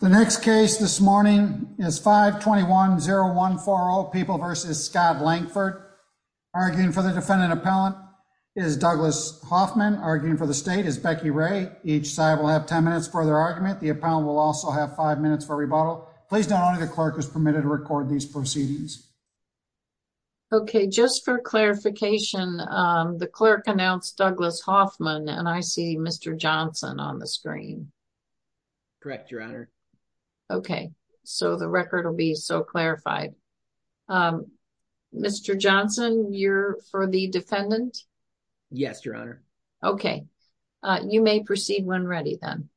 The next case this morning is 521-0140 People v. Scott Langford. Arguing for the defendant appellant is Douglas Hoffman. Arguing for the state is Becky Ray. Each side will have 10 minutes for their argument. The appellant will also have 5 minutes for rebuttal. Please note only the clerk is permitted to record these proceedings. Okay, just for clarification, the clerk announced Douglas Hoffman and I see Mr. Johnson on the screen. Correct, Your Honor. Okay, so the record will be so clarified. Mr. Johnson, you're for the defendant? Yes, Your Honor. Okay, you may proceed when ready then.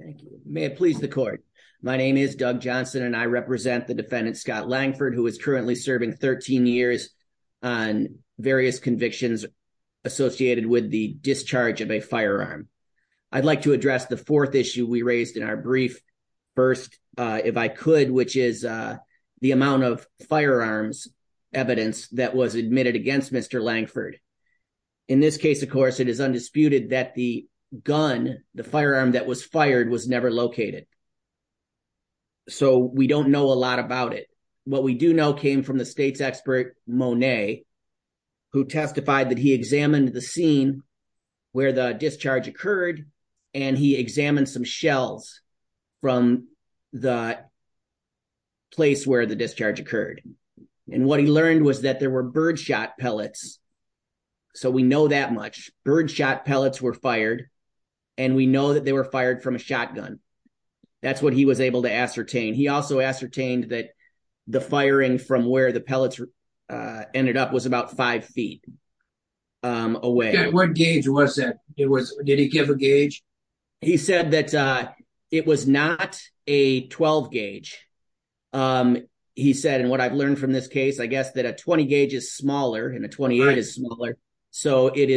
Thank you. May it please the court. My name is Doug Johnson and I represent the defendant, Scott Langford, who is currently serving 13 years on various convictions associated with the discharge of a firearm. I'd like to address the fourth issue we raised in our brief. First, if I could, which is the amount of firearms evidence that was admitted against Mr. Langford. In this case, of course, it is undisputed that the gun, the firearm that was fired was never located. So we don't know a lot about it. What we do know came from the state's expert, Monet, who testified that he examined the scene where the discharge occurred and he examined some shells from the place where the discharge occurred. And what he learned was that there were birdshot pellets. So we know that much. Birdshot pellets were fired and we know that they were fired from a shotgun. That's what he was able to ascertain. He also ascertained that the firing from where the pellets ended up was about five feet away. Did he give a gauge? He said that it was not a 12 gauge. He said, and what I've learned from this case, I guess that a 20 gauge is smaller and a 28 is smaller. So it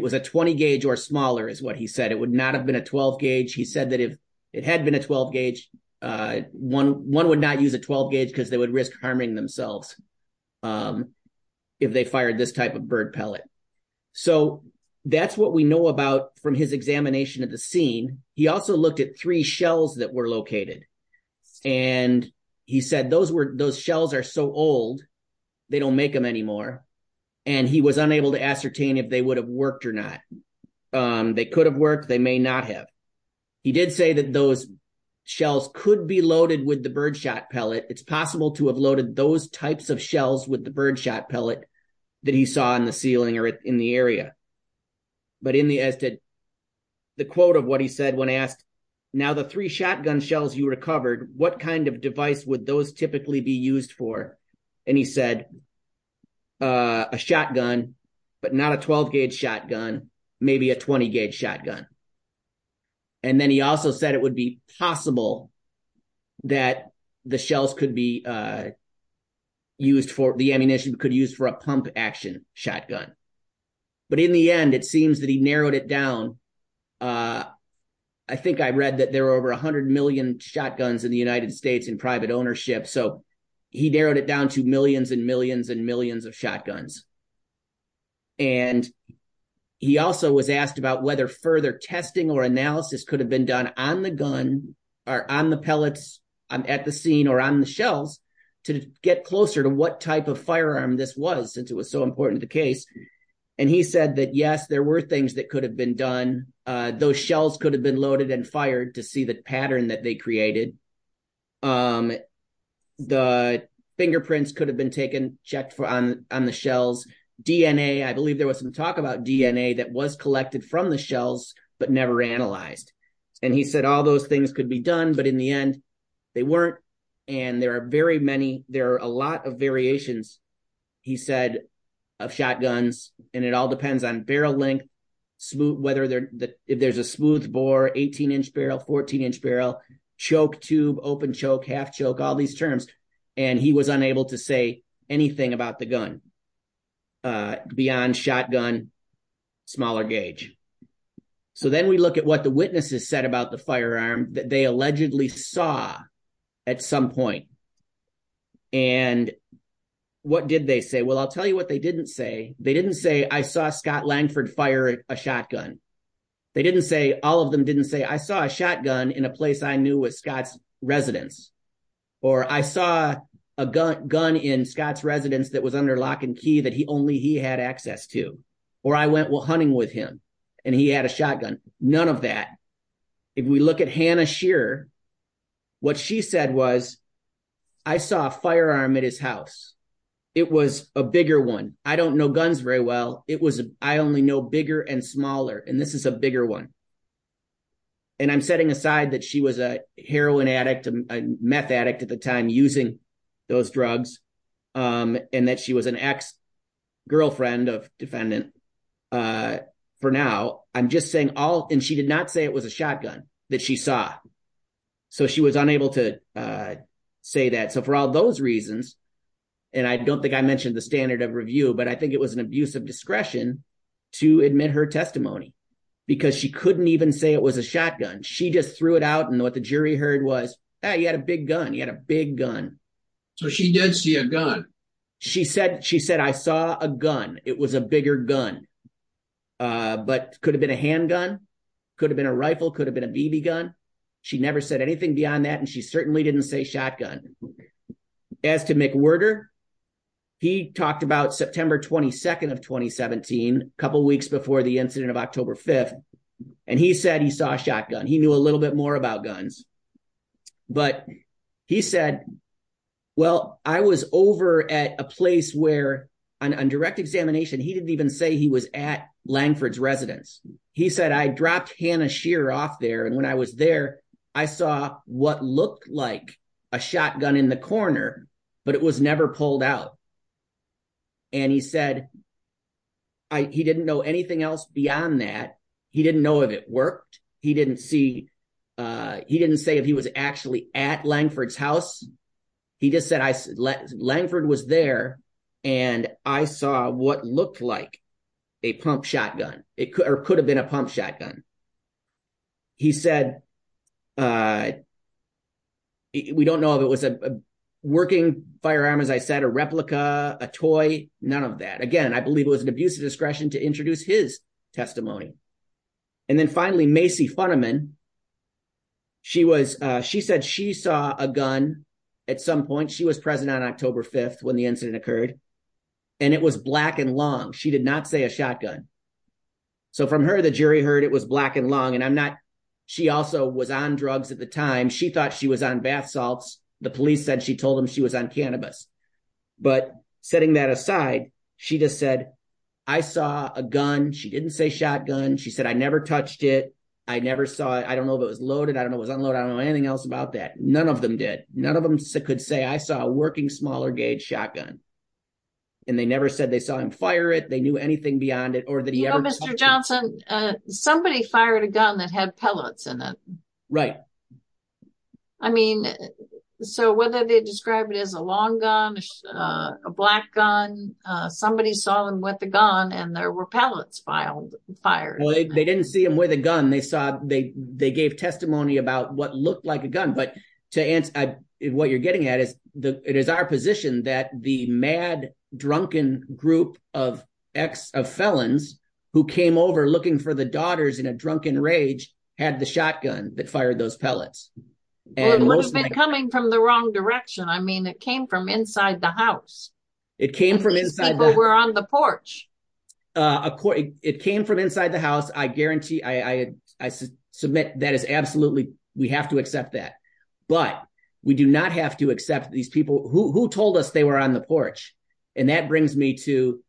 was a 20 gauge or smaller is what he said. It would not have been a 12 gauge. He said that if it had been a 12 gauge, one would not use a 12 gauge because they would risk harming themselves if they fired this type of bird pellet. So that's what we know about from his examination of the scene. He also looked at three shells that were located. And he said those were, those shells are so old, they don't make them anymore. And he was unable to ascertain if they would have worked or not. They could have worked, they may not have. He did say that those shells could be loaded with the birdshot pellet. It's possible to have loaded those types of shells with the birdshot pellet that he saw on the ceiling or in the area. But in the, as did the quote of what he said when asked, now the three shotgun shells you recovered, what kind of device would those typically be used for? And he said, a shotgun, but not a 12 gauge shotgun, maybe a 20 gauge shotgun. And then he also said it would be possible that the shells could be used for, the ammunition could use for a pump action shotgun. But in the end, it seems that he narrowed it down. I think I read that there were over 100 million shotguns in the United States in private ownership. So he narrowed it down to millions and millions and millions of shotguns. And he also was asked about whether further testing or analysis could have been done on the gun or on the pellets at the scene or on the shells to get closer to what type of firearm this was, since it was so important to the case. And he said that, yes, there were things that could have been done. Those shells could have been loaded and fired to see the pattern that they created. Um, the fingerprints could have been taken, checked on the shells. DNA, I believe there was some talk about DNA that was collected from the shells, but never analyzed. And he said all those things could be done, but in the end, they weren't. And there are very many, there are a lot of variations, he said, of shotguns. And it all depends on barrel length, whether there's a smooth bore, 18 inch barrel, 14 inch barrel, choke tube, open choke, half choke, all these terms. And he was unable to say anything about the gun, beyond shotgun, smaller gauge. So then we look at what the witnesses said about the firearm that they allegedly saw at some point. And what did they say? Well, I'll tell you what they didn't say. They didn't say, I saw Scott Langford fire a shotgun. They didn't say, all of them didn't say, I saw a shotgun in a place I knew was Scott's residence. Or I saw a gun in Scott's residence that was under lock and key that only he had access to. Or I went hunting with him and he had a shotgun. None of that. If we look at Hannah Shearer, what she said was, I saw a firearm at his house. It was a bigger one. I don't know guns very well. It was, I only know bigger and smaller. And this is a bigger one. And I'm setting aside that she was a heroin addict, a meth addict at the time using those drugs. And that she was an ex-girlfriend of defendant for now. I'm just saying all, and she did not say it was a shotgun that she saw. So she was unable to say that. So for all those reasons, and I don't think I mentioned the standard of review, but I think it was an abuse of discretion to admit her testimony because she couldn't even say it was a shotgun. She just threw it out. And what the jury heard was, hey, you had a big gun. You had a big gun. So she did see a gun. She said, I saw a gun. It was a bigger gun, but could have been a handgun. Could have been a rifle. Could have been a BB gun. She never said anything beyond that. And she certainly didn't say shotgun. As to Mick Werger, he talked about September 22nd of 2017, a couple of weeks before the incident of October 5th. And he said he saw a shotgun. He knew a little bit more about guns. But he said, well, I was over at a place where on direct examination, he didn't even say he was at Langford's residence. He said, I dropped Hannah Shearer off there. And when I was there, I saw what looked like a shotgun in the corner, but it was never pulled out. And he said, he didn't know anything else beyond that. He didn't know if it worked. He didn't see, he didn't say if he was actually at Langford's house. He just said, Langford was there and I saw what looked like a pump shotgun. It could have been a pump shotgun. He said, we don't know if it was a working firearm, as I said, a replica, a toy, none of that. Again, I believe it was an abuse of discretion to introduce his testimony. And then finally, Macy Funiman, she said she saw a gun at some point. She was present on October 5th when the incident occurred. And it was black and long. She did not say a shotgun. So from her, the jury heard it was black and long. And I'm not, she also was on drugs at the time. She thought she was on bath salts. The police said she told him she was on cannabis. But setting that aside, she just said, I saw a gun. She didn't say shotgun. She said, I never touched it. I never saw it. I don't know if it was loaded. I don't know if it was unloaded. I don't know anything else about that. None of them did. None of them could say, I saw a working smaller gauge shotgun. And they never said they saw him fire it. They knew anything beyond it or that he ever- You know, Mr. Johnson, somebody fired a gun that had pellets in it. Right. I mean, so whether they describe it as a long gun a black gun, somebody saw him with the gun and there were pellets fired. Well, they didn't see him with a gun. They saw, they gave testimony about what looked like a gun. But to answer what you're getting at is, it is our position that the mad, drunken group of felons who came over looking for the daughters in a drunken rage had the shotgun that fired those pellets. It would have been coming from the wrong direction. I mean, it came from inside the house. It came from inside the- People were on the porch. It came from inside the house. I guarantee, I submit that is absolutely, we have to accept that. But we do not have to accept these people who told us they were on the porch. And that brings me to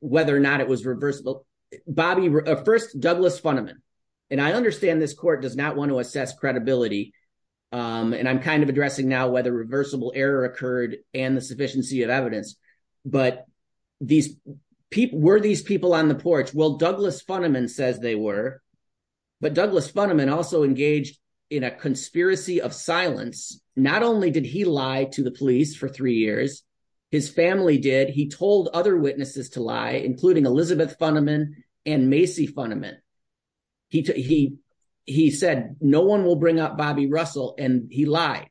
whether or not it was reversible. Bobby, first, Douglas Fundiman. And I understand this court does not want to assess credibility. And I'm kind of addressing now whether reversible error occurred and the sufficiency of evidence. But were these people on the porch? Well, Douglas Fundiman says they were. But Douglas Fundiman also engaged in a conspiracy of silence. Not only did he lie to the police for three years, his family did. He told other witnesses to lie, including Elizabeth Fundiman and Macy Fundiman. He said, no one will bring up Bobby Russell. And he lied.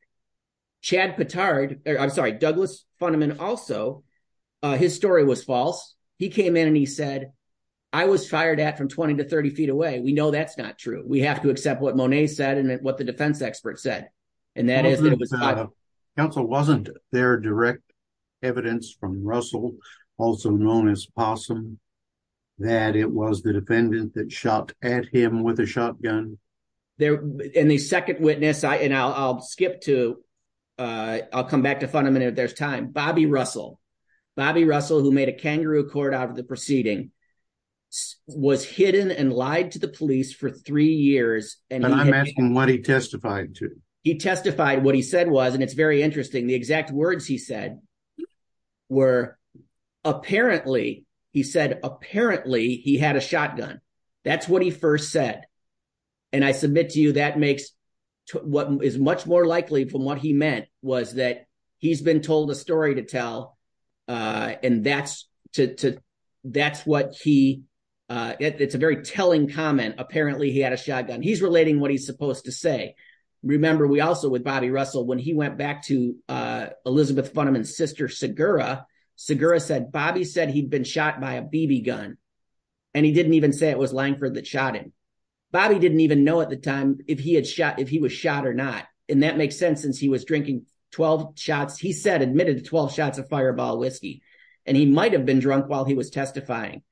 Chad Petard, I'm sorry, Douglas Fundiman also, his story was false. He came in and he said, I was fired at from 20 to 30 feet away. We know that's not true. We have to accept what Monet said and what the defense expert said. And that is- Counsel, wasn't there direct evidence from Russell, also known as Possum, that it was the defendant that shot at him with a shotgun? And the second witness, and I'll skip to, I'll come back to Fundiman if there's time. Bobby Russell. Bobby Russell, who made a kangaroo court out of the proceeding, was hidden and lied to the police for three years. And I'm asking what he testified to. He testified what he said was, and it's very interesting, the exact words he said were, apparently, he said, apparently, he had a shotgun. That's what he first said. And I submit to you, that makes what is much more likely from what he meant was that he's been told a story to tell. And that's what he, it's a very telling comment. Apparently, he had a shotgun. He's relating what he's supposed to say. Remember, we also, with Bobby Russell, when he went back to Elizabeth Fundiman's sister, Sigura, Sigura said, Bobby said he'd been shot by a BB gun. And he didn't even say it was Langford that shot him. Bobby didn't even know at the time if he was shot or not. And that makes sense since he was drinking 12 shots. He said, admitted to 12 shots of fireball whiskey. And he might've been drunk while he was testifying.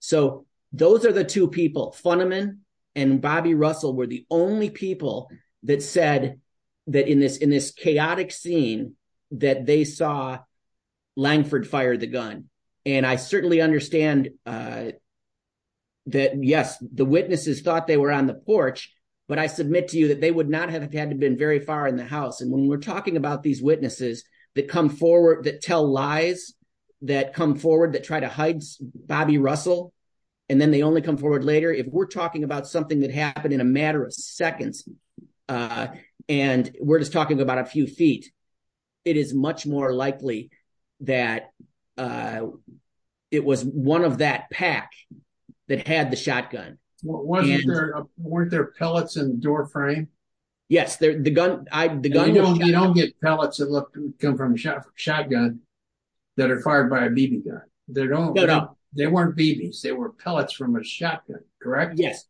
So those are the two people, Fundiman and Bobby Russell were the only people that said that in this chaotic scene that they saw, Langford fired the gun. And I certainly understand that, yes, the witnesses thought they were on the porch, but I submit to you that they would not have had to been very far in the house. And when we're talking about these witnesses that come forward, that tell lies, that come forward, that try to hide Bobby Russell, and then they only come forward later. If we're talking about something that happened in a matter of seconds, and we're just talking about a few feet, it is much more likely that it was one of that pack that had the shotgun. And- Weren't there pellets in the doorframe? Yes, the gun- You don't get pellets that come from a shotgun that are fired by a BB gun. They don't, they weren't BBs. They were pellets from a shotgun, correct? Yes,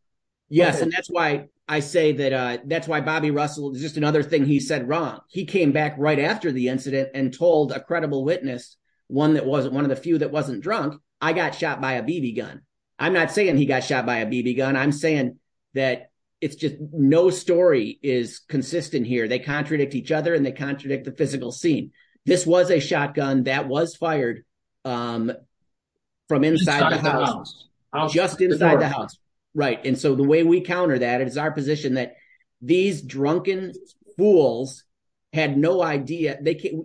yes. And that's why I say that, that's why Bobby Russell, just another thing he said wrong. He came back right after the incident and told a credible witness, one that wasn't, one of the few that wasn't drunk, I got shot by a BB gun. I'm not saying he got shot by a BB gun. I'm saying that it's just no story is consistent here. They contradict each other and they contradict the physical scene. This was a shotgun that was fired from inside the house, just inside the house. Right, and so the way we counter that, it is our position that these drunken fools had no idea,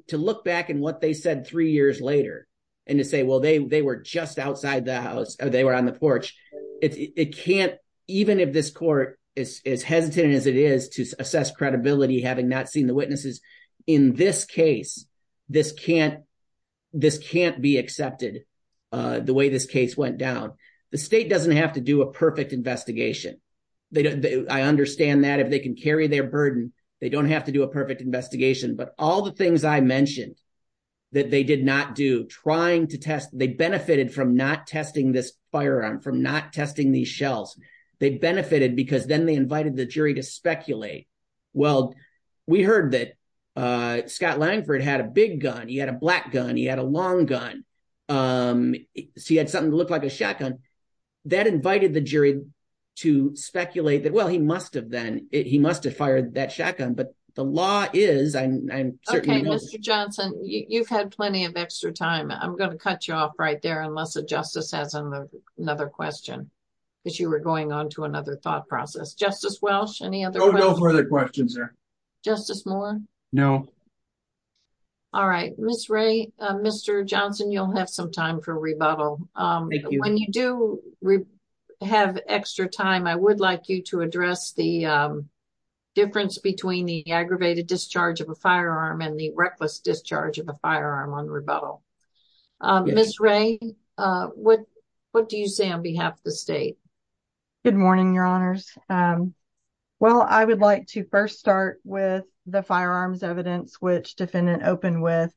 to look back in what they said three years later, and to say, well, they were just outside the house or they were on the porch. It can't, even if this court is hesitant as it is to assess credibility, having not seen the witnesses, in this case, this can't be accepted the way this case went down. The state doesn't have to do a perfect investigation. I understand that if they can carry their burden, they don't have to do a perfect investigation. But all the things I mentioned that they did not do, trying to test, they benefited from not testing this firearm, from not testing these shells. They benefited because then they invited the jury to speculate, well, we heard that Scott Langford had a big gun, he had a black gun, he had a long gun. So he had something that looked like a shotgun. That invited the jury to speculate that, well, he must have then, he must have fired that shotgun. But the law is, I'm certain- Okay, Mr. Johnson, you've had plenty of extra time. I'm gonna cut you off right there unless the justice has another question, because you were going on to another thought process. Justice Welsh, any other questions? No further questions, sir. Justice Moore? No. All right, Ms. Ray, Mr. Johnson, you'll have some time for rebuttal. Thank you. When you do have extra time, I would like you to address the difference between the aggravated discharge of a firearm and the reckless discharge of a firearm on rebuttal. Ms. Ray, what do you say on behalf of the state? Good morning, Your Honors. Well, I would like to first start with the firearms evidence which defendant opened with.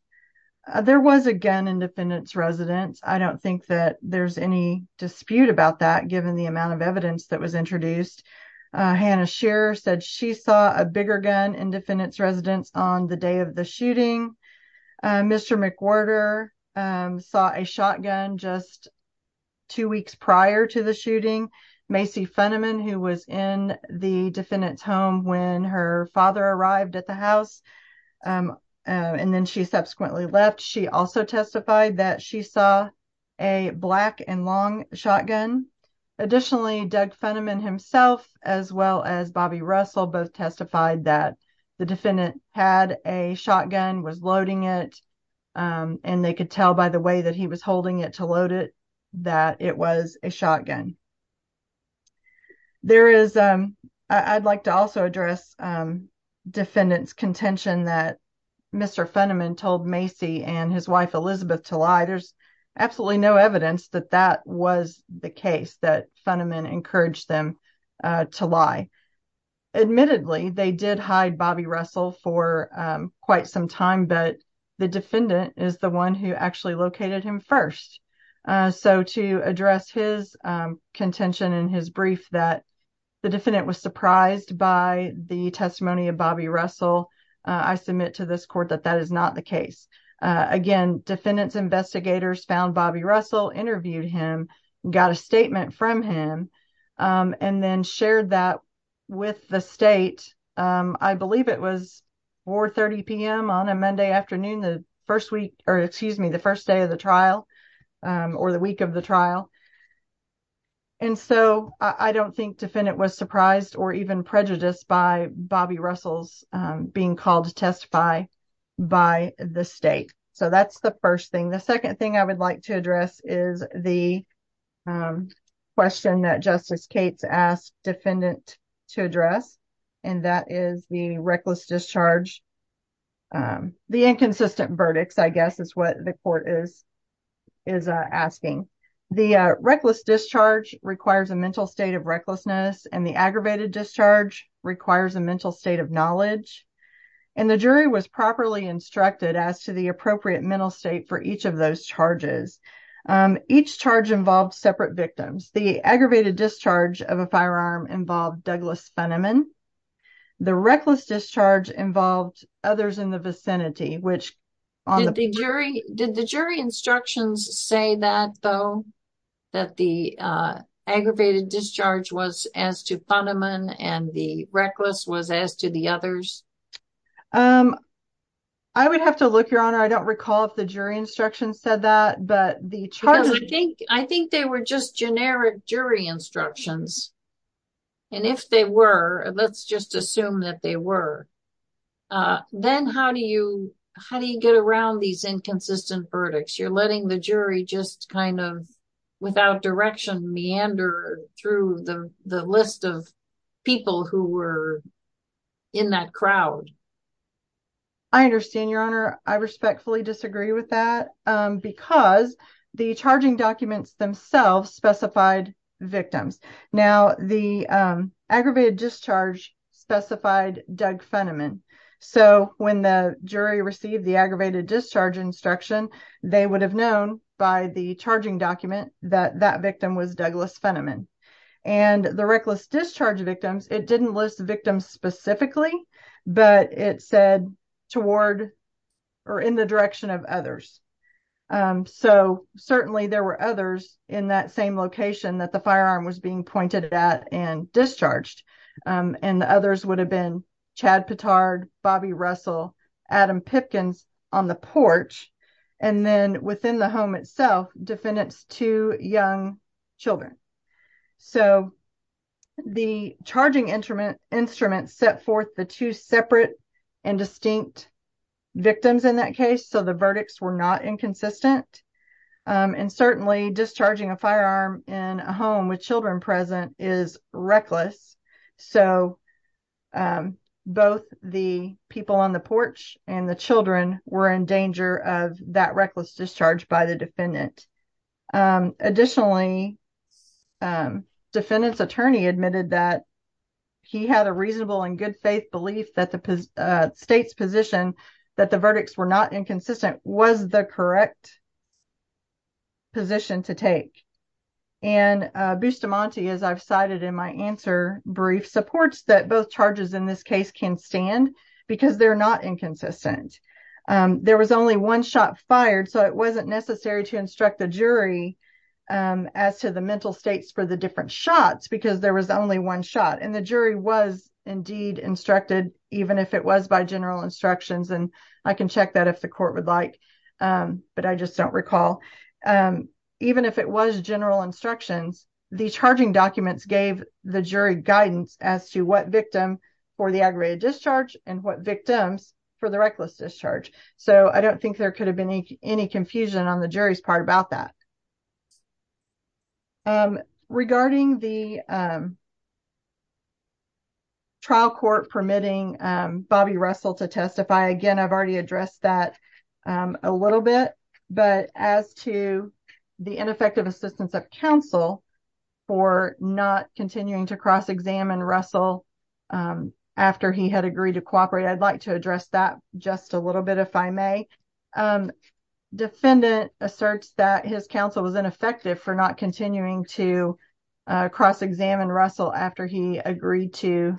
There was a gun in defendant's residence. I don't think that there's any dispute about that, but it was introduced. Hannah Shearer said she saw a bigger gun in defendant's residence on the day of the shooting. Mr. McWhorter saw a shotgun just two weeks prior to the shooting. Macy Funiman, who was in the defendant's home when her father arrived at the house and then she subsequently left, she also testified that she saw a black and long shotgun. Additionally, Doug Funiman himself as well as Bobby Russell both testified that the defendant had a shotgun, was loading it, and they could tell by the way that he was holding it to load it that it was a shotgun. I'd like to also address defendant's contention that Mr. Funiman told Macy and his wife Elizabeth to lie. There's absolutely no evidence that that was the case that Funiman encouraged them to lie. Admittedly, they did hide Bobby Russell for quite some time, but the defendant is the one who actually located him first. So to address his contention in his brief that the defendant was surprised by the testimony of Bobby Russell, I submit to this court that that is not the case. Again, defendant's investigators found Bobby Russell, interviewed him, got a statement from him, and then shared that with the state. I believe it was 4.30 p.m. on a Monday afternoon, the first week or excuse me, the first day of the trial or the week of the trial. And so I don't think defendant was surprised or even prejudiced by Bobby Russell's being called to testify by the state. So that's the first thing. The second thing I would like to address is the question that Justice Cates asked defendant to address, and that is the reckless discharge. The inconsistent verdicts, I guess is what the court is asking. The reckless discharge requires a mental state of recklessness and the aggravated discharge requires a mental state of knowledge. And the jury was properly instructed as to the appropriate mental state for each of those charges. Each charge involved separate victims. The aggravated discharge of a firearm involved Douglas Fenneman. The reckless discharge involved others in the vicinity, which on the jury, did the jury instructions say that though, that the aggravated discharge was as to Fenneman and the reckless was as to the others? Um, I would have to look your honor. I don't recall if the jury instruction said that, but the charge I think, I think they were just generic jury instructions. And if they were, let's just assume that they were. Then how do you, how do you get around these inconsistent verdicts? You're letting the jury just kind of without direction meander through the list of people who were in that crowd. I understand your honor. I respectfully disagree with that because the charging documents themselves specified victims. Now the aggravated discharge specified Doug Fenneman. So when the jury received the aggravated discharge instruction, they would have known by the charging document that that victim was Douglas Fenneman and the reckless discharge victims. It didn't list victims specifically, but it said toward or in the direction of others. So certainly there were others in that same location that the firearm was being pointed at and discharged. And the others would have been Chad Pittard, Bobby Russell, Adam Pipkin's on the porch. And then within the home itself, defendants to young children. So the charging instrument set forth the two separate and distinct victims in that case. So the verdicts were not inconsistent. And certainly discharging a firearm in a home with children present is reckless. So both the people on the porch and the children were in danger of that reckless discharge by the defendant. Additionally, defendant's attorney admitted that he had a reasonable and good faith belief that the state's position, that the verdicts were not inconsistent, was the correct position to take. And Bustamante, as I've cited in my answer brief, supports that both charges in this case can stand because they're not inconsistent. There was only one shot fired, so it wasn't necessary to instruct the jury as to the mental states for the different shots, because there was only one shot. And the jury was indeed instructed, even if it was by general instructions. And I can check that if the court would like, but I just don't recall. Even if it was general instructions, the charging documents gave the jury guidance as to what victim for the aggravated discharge and what victims for the reckless discharge. So I don't think there could have been any confusion on the jury's part about that. Regarding the trial court permitting Bobby Russell to testify, again, I've already addressed that a little bit. But as to the ineffective assistance of counsel for not continuing to cross-examine Russell after he had agreed to cooperate, I'd like to address that just a little bit if I may. Defendant asserts that his counsel was ineffective for not continuing to cross-examine Russell after he agreed to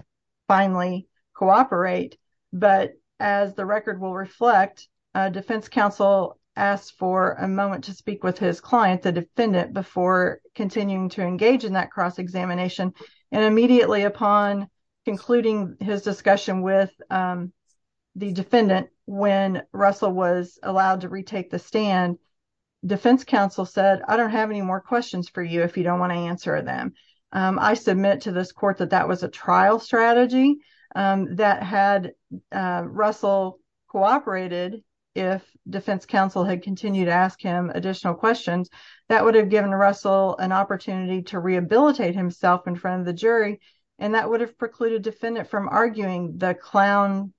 finally cooperate. But as the record will reflect, defense counsel asked for a moment to speak with his client, the defendant, before continuing to engage in that cross-examination. And immediately upon concluding his discussion with the defendant when Russell was allowed to retake the stand, defense counsel said, I don't have any more questions for you if you don't want to answer them. I submit to this court that that was a trial strategy that had Russell cooperated if defense counsel had continued to ask him additional questions. That would have given Russell an opportunity to rehabilitate himself in front of the jury. And that would have precluded defendant from arguing the clown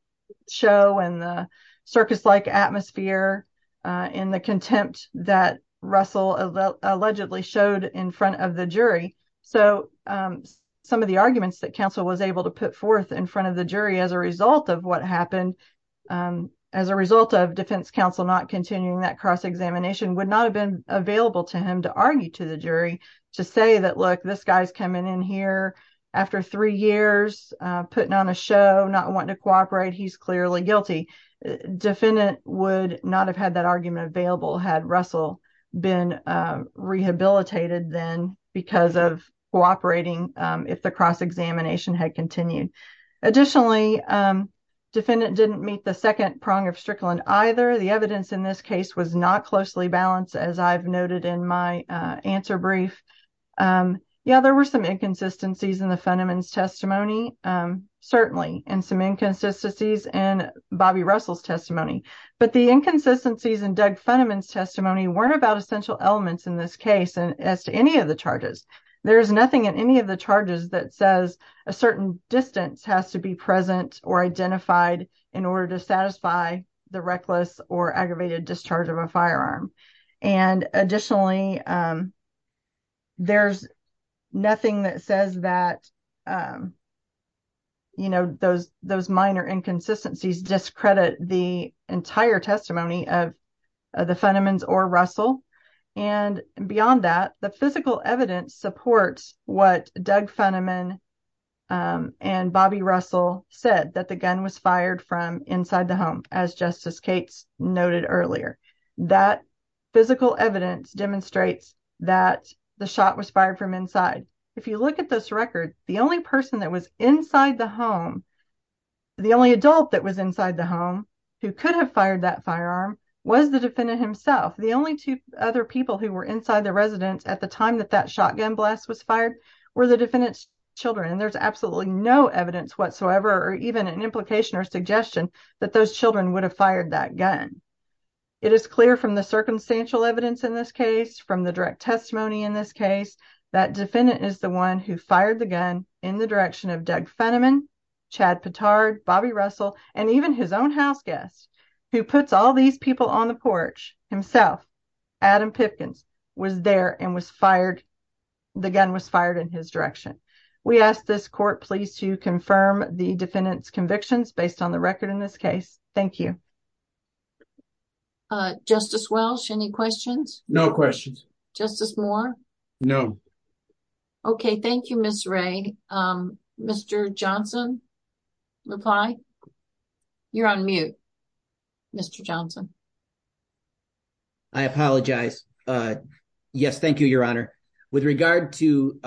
show and the circus-like atmosphere in the contempt that Russell allegedly showed in front of the jury. So some of the arguments that counsel was able to put forth in front of the jury as a result of what happened, as a result of defense counsel not continuing that cross-examination would not have been available to him to argue to the jury to say that, look, this guy's coming in here after three years, putting on a show, not wanting to cooperate. He's clearly guilty. Defendant would not have had that argument available had Russell been rehabilitated then because of cooperating if the cross-examination had continued. Additionally, defendant didn't meet the second prong of Strickland either. The evidence in this case was not closely balanced as I've noted in my answer brief. Yeah, there were some inconsistencies in the Fenneman's testimony, certainly, and some inconsistencies in Bobby Russell's testimony. But the inconsistencies in Doug Fenneman's testimony weren't about essential elements in this case as to any of the charges. There's nothing in any of the charges that says a certain distance has to be present or identified in order to satisfy the reckless or aggravated discharge of a firearm. And additionally, there's nothing that says that, you know, those minor inconsistencies discredit the entire testimony of the Fenneman's or Russell. And beyond that, the physical evidence supports what Doug Fenneman and Bobby Russell said that the gun was fired from inside the home as Justice Cates noted earlier. That physical evidence demonstrates that the shot was fired from inside. If you look at this record, the only person that was inside the home, the only adult that was inside the home who could have fired that firearm was the defendant himself. The only two other people who were inside the residence at the time that that shotgun blast was fired were the defendant's children. And there's absolutely no evidence whatsoever or even an implication or suggestion that those children would have fired that gun. It is clear from the circumstantial evidence in this case, from the direct testimony in this case, that defendant is the one who fired the gun in the direction of Doug Fenneman, Chad Pittard, Bobby Russell, and even his own house guests who puts all these people on the porch himself. Adam Pipkin was there and was fired. The gun was fired in his direction. We ask this court please to confirm the defendant's convictions based on the record in this case. Thank you. Uh, Justice Welsh, any questions? No questions. Justice Moore? No. Okay, thank you, Ms. Wray. Mr. Johnson, reply? You're on mute, Mr. Johnson. I apologize. Yes, thank you, Your Honor. With regard to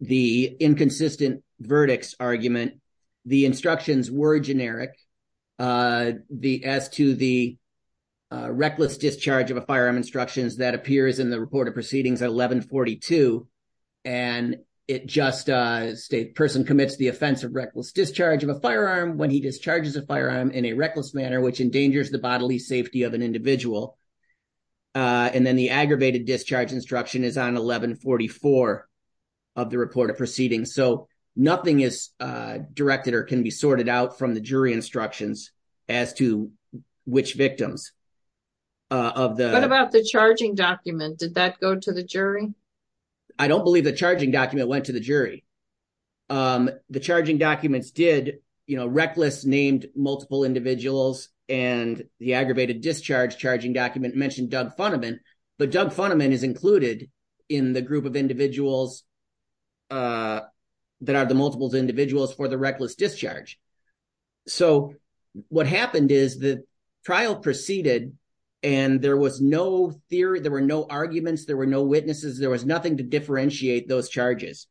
the inconsistent verdicts argument, the instructions were generic. As to the reckless discharge of a firearm instructions that appears in the report of proceedings at 1142. And it just states, person commits the offense of reckless discharge of a firearm when he discharges a firearm in a reckless manner, which endangers the bodily safety of an individual. And then the aggravated discharge instruction is on 1144 of the report of proceedings. So nothing is directed or can be sorted out from the jury instructions as to which victims of the- Did that go to the jury? I don't believe the charging document went to the jury. The charging documents did, you know, reckless named multiple individuals and the aggravated discharge charging document mentioned Doug Funiman. But Doug Funiman is included in the group of individuals that are the multiples individuals for the reckless discharge. So what happened is the trial proceeded and there was no theory, there were no arguments, there were no witnesses, there was nothing to differentiate those charges.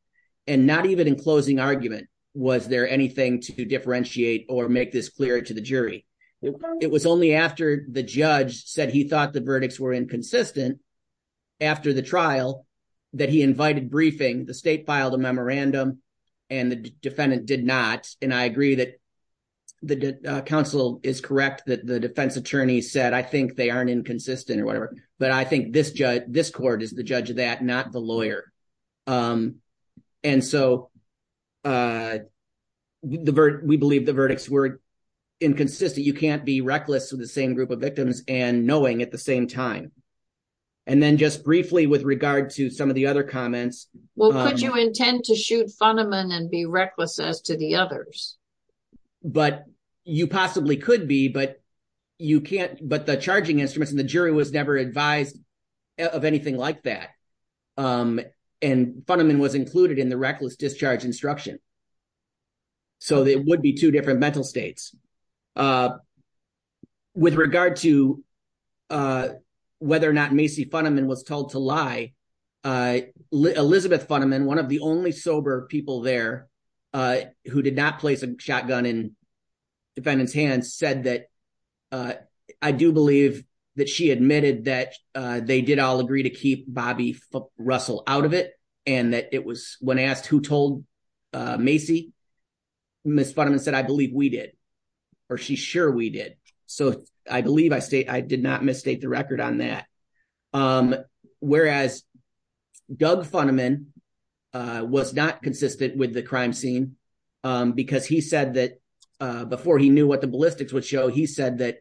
And not even in closing argument, was there anything to differentiate or make this clear to the jury. It was only after the judge said he thought the verdicts were inconsistent after the trial that he invited briefing. The state filed a memorandum and the defendant did not. And I agree that the counsel is correct that the defense attorney said, they aren't inconsistent or whatever. But I think this court is the judge of that, not the lawyer. And so we believe the verdicts were inconsistent. You can't be reckless with the same group of victims and knowing at the same time. And then just briefly with regard to some of the other comments. Well, could you intend to shoot Funiman and be reckless as to the others? But you possibly could be, you can't, but the charging instruments and the jury was never advised of anything like that. And Funiman was included in the reckless discharge instruction. So there would be two different mental states. With regard to whether or not Macy Funiman was told to lie, Elizabeth Funiman, one of the only sober people there who did not place a shotgun in defendant's hands said that, I do believe that she admitted that they did all agree to keep Bobby Russell out of it. And that it was when asked who told Macy, Ms. Funiman said, I believe we did. Or she's sure we did. So I believe I did not mistake the record on that. Whereas Doug Funiman was not consistent with the crime scene because he said before he knew what the ballistics would show, he said that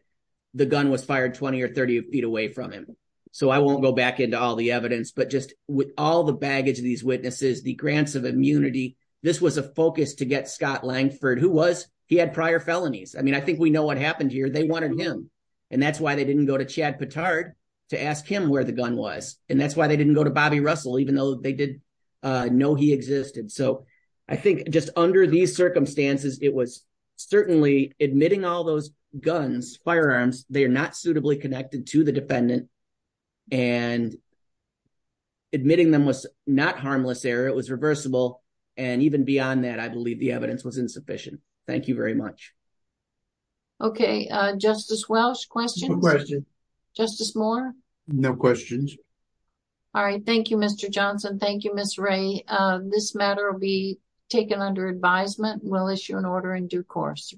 the gun was fired 20 or 30 feet away from him. So I won't go back into all the evidence, but just with all the baggage of these witnesses, the grants of immunity, this was a focus to get Scott Langford, who was, he had prior felonies. I mean, I think we know what happened here. They wanted him. And that's why they didn't go to Chad Pittard to ask him where the gun was. And that's why they didn't go to Bobby Russell, even though they did know he existed. So I think just under these circumstances, it was certainly admitting all those guns, firearms, they are not suitably connected to the defendant and admitting them was not harmless error. It was reversible. And even beyond that, I believe the evidence was insufficient. Thank you very much. Okay. Justice Welch, questions? No questions. Justice Moore? No questions. All right. Thank you, Mr. Johnson. Thank you, Ms. Ray. This matter will be taken under advisement. We'll issue an order in due course.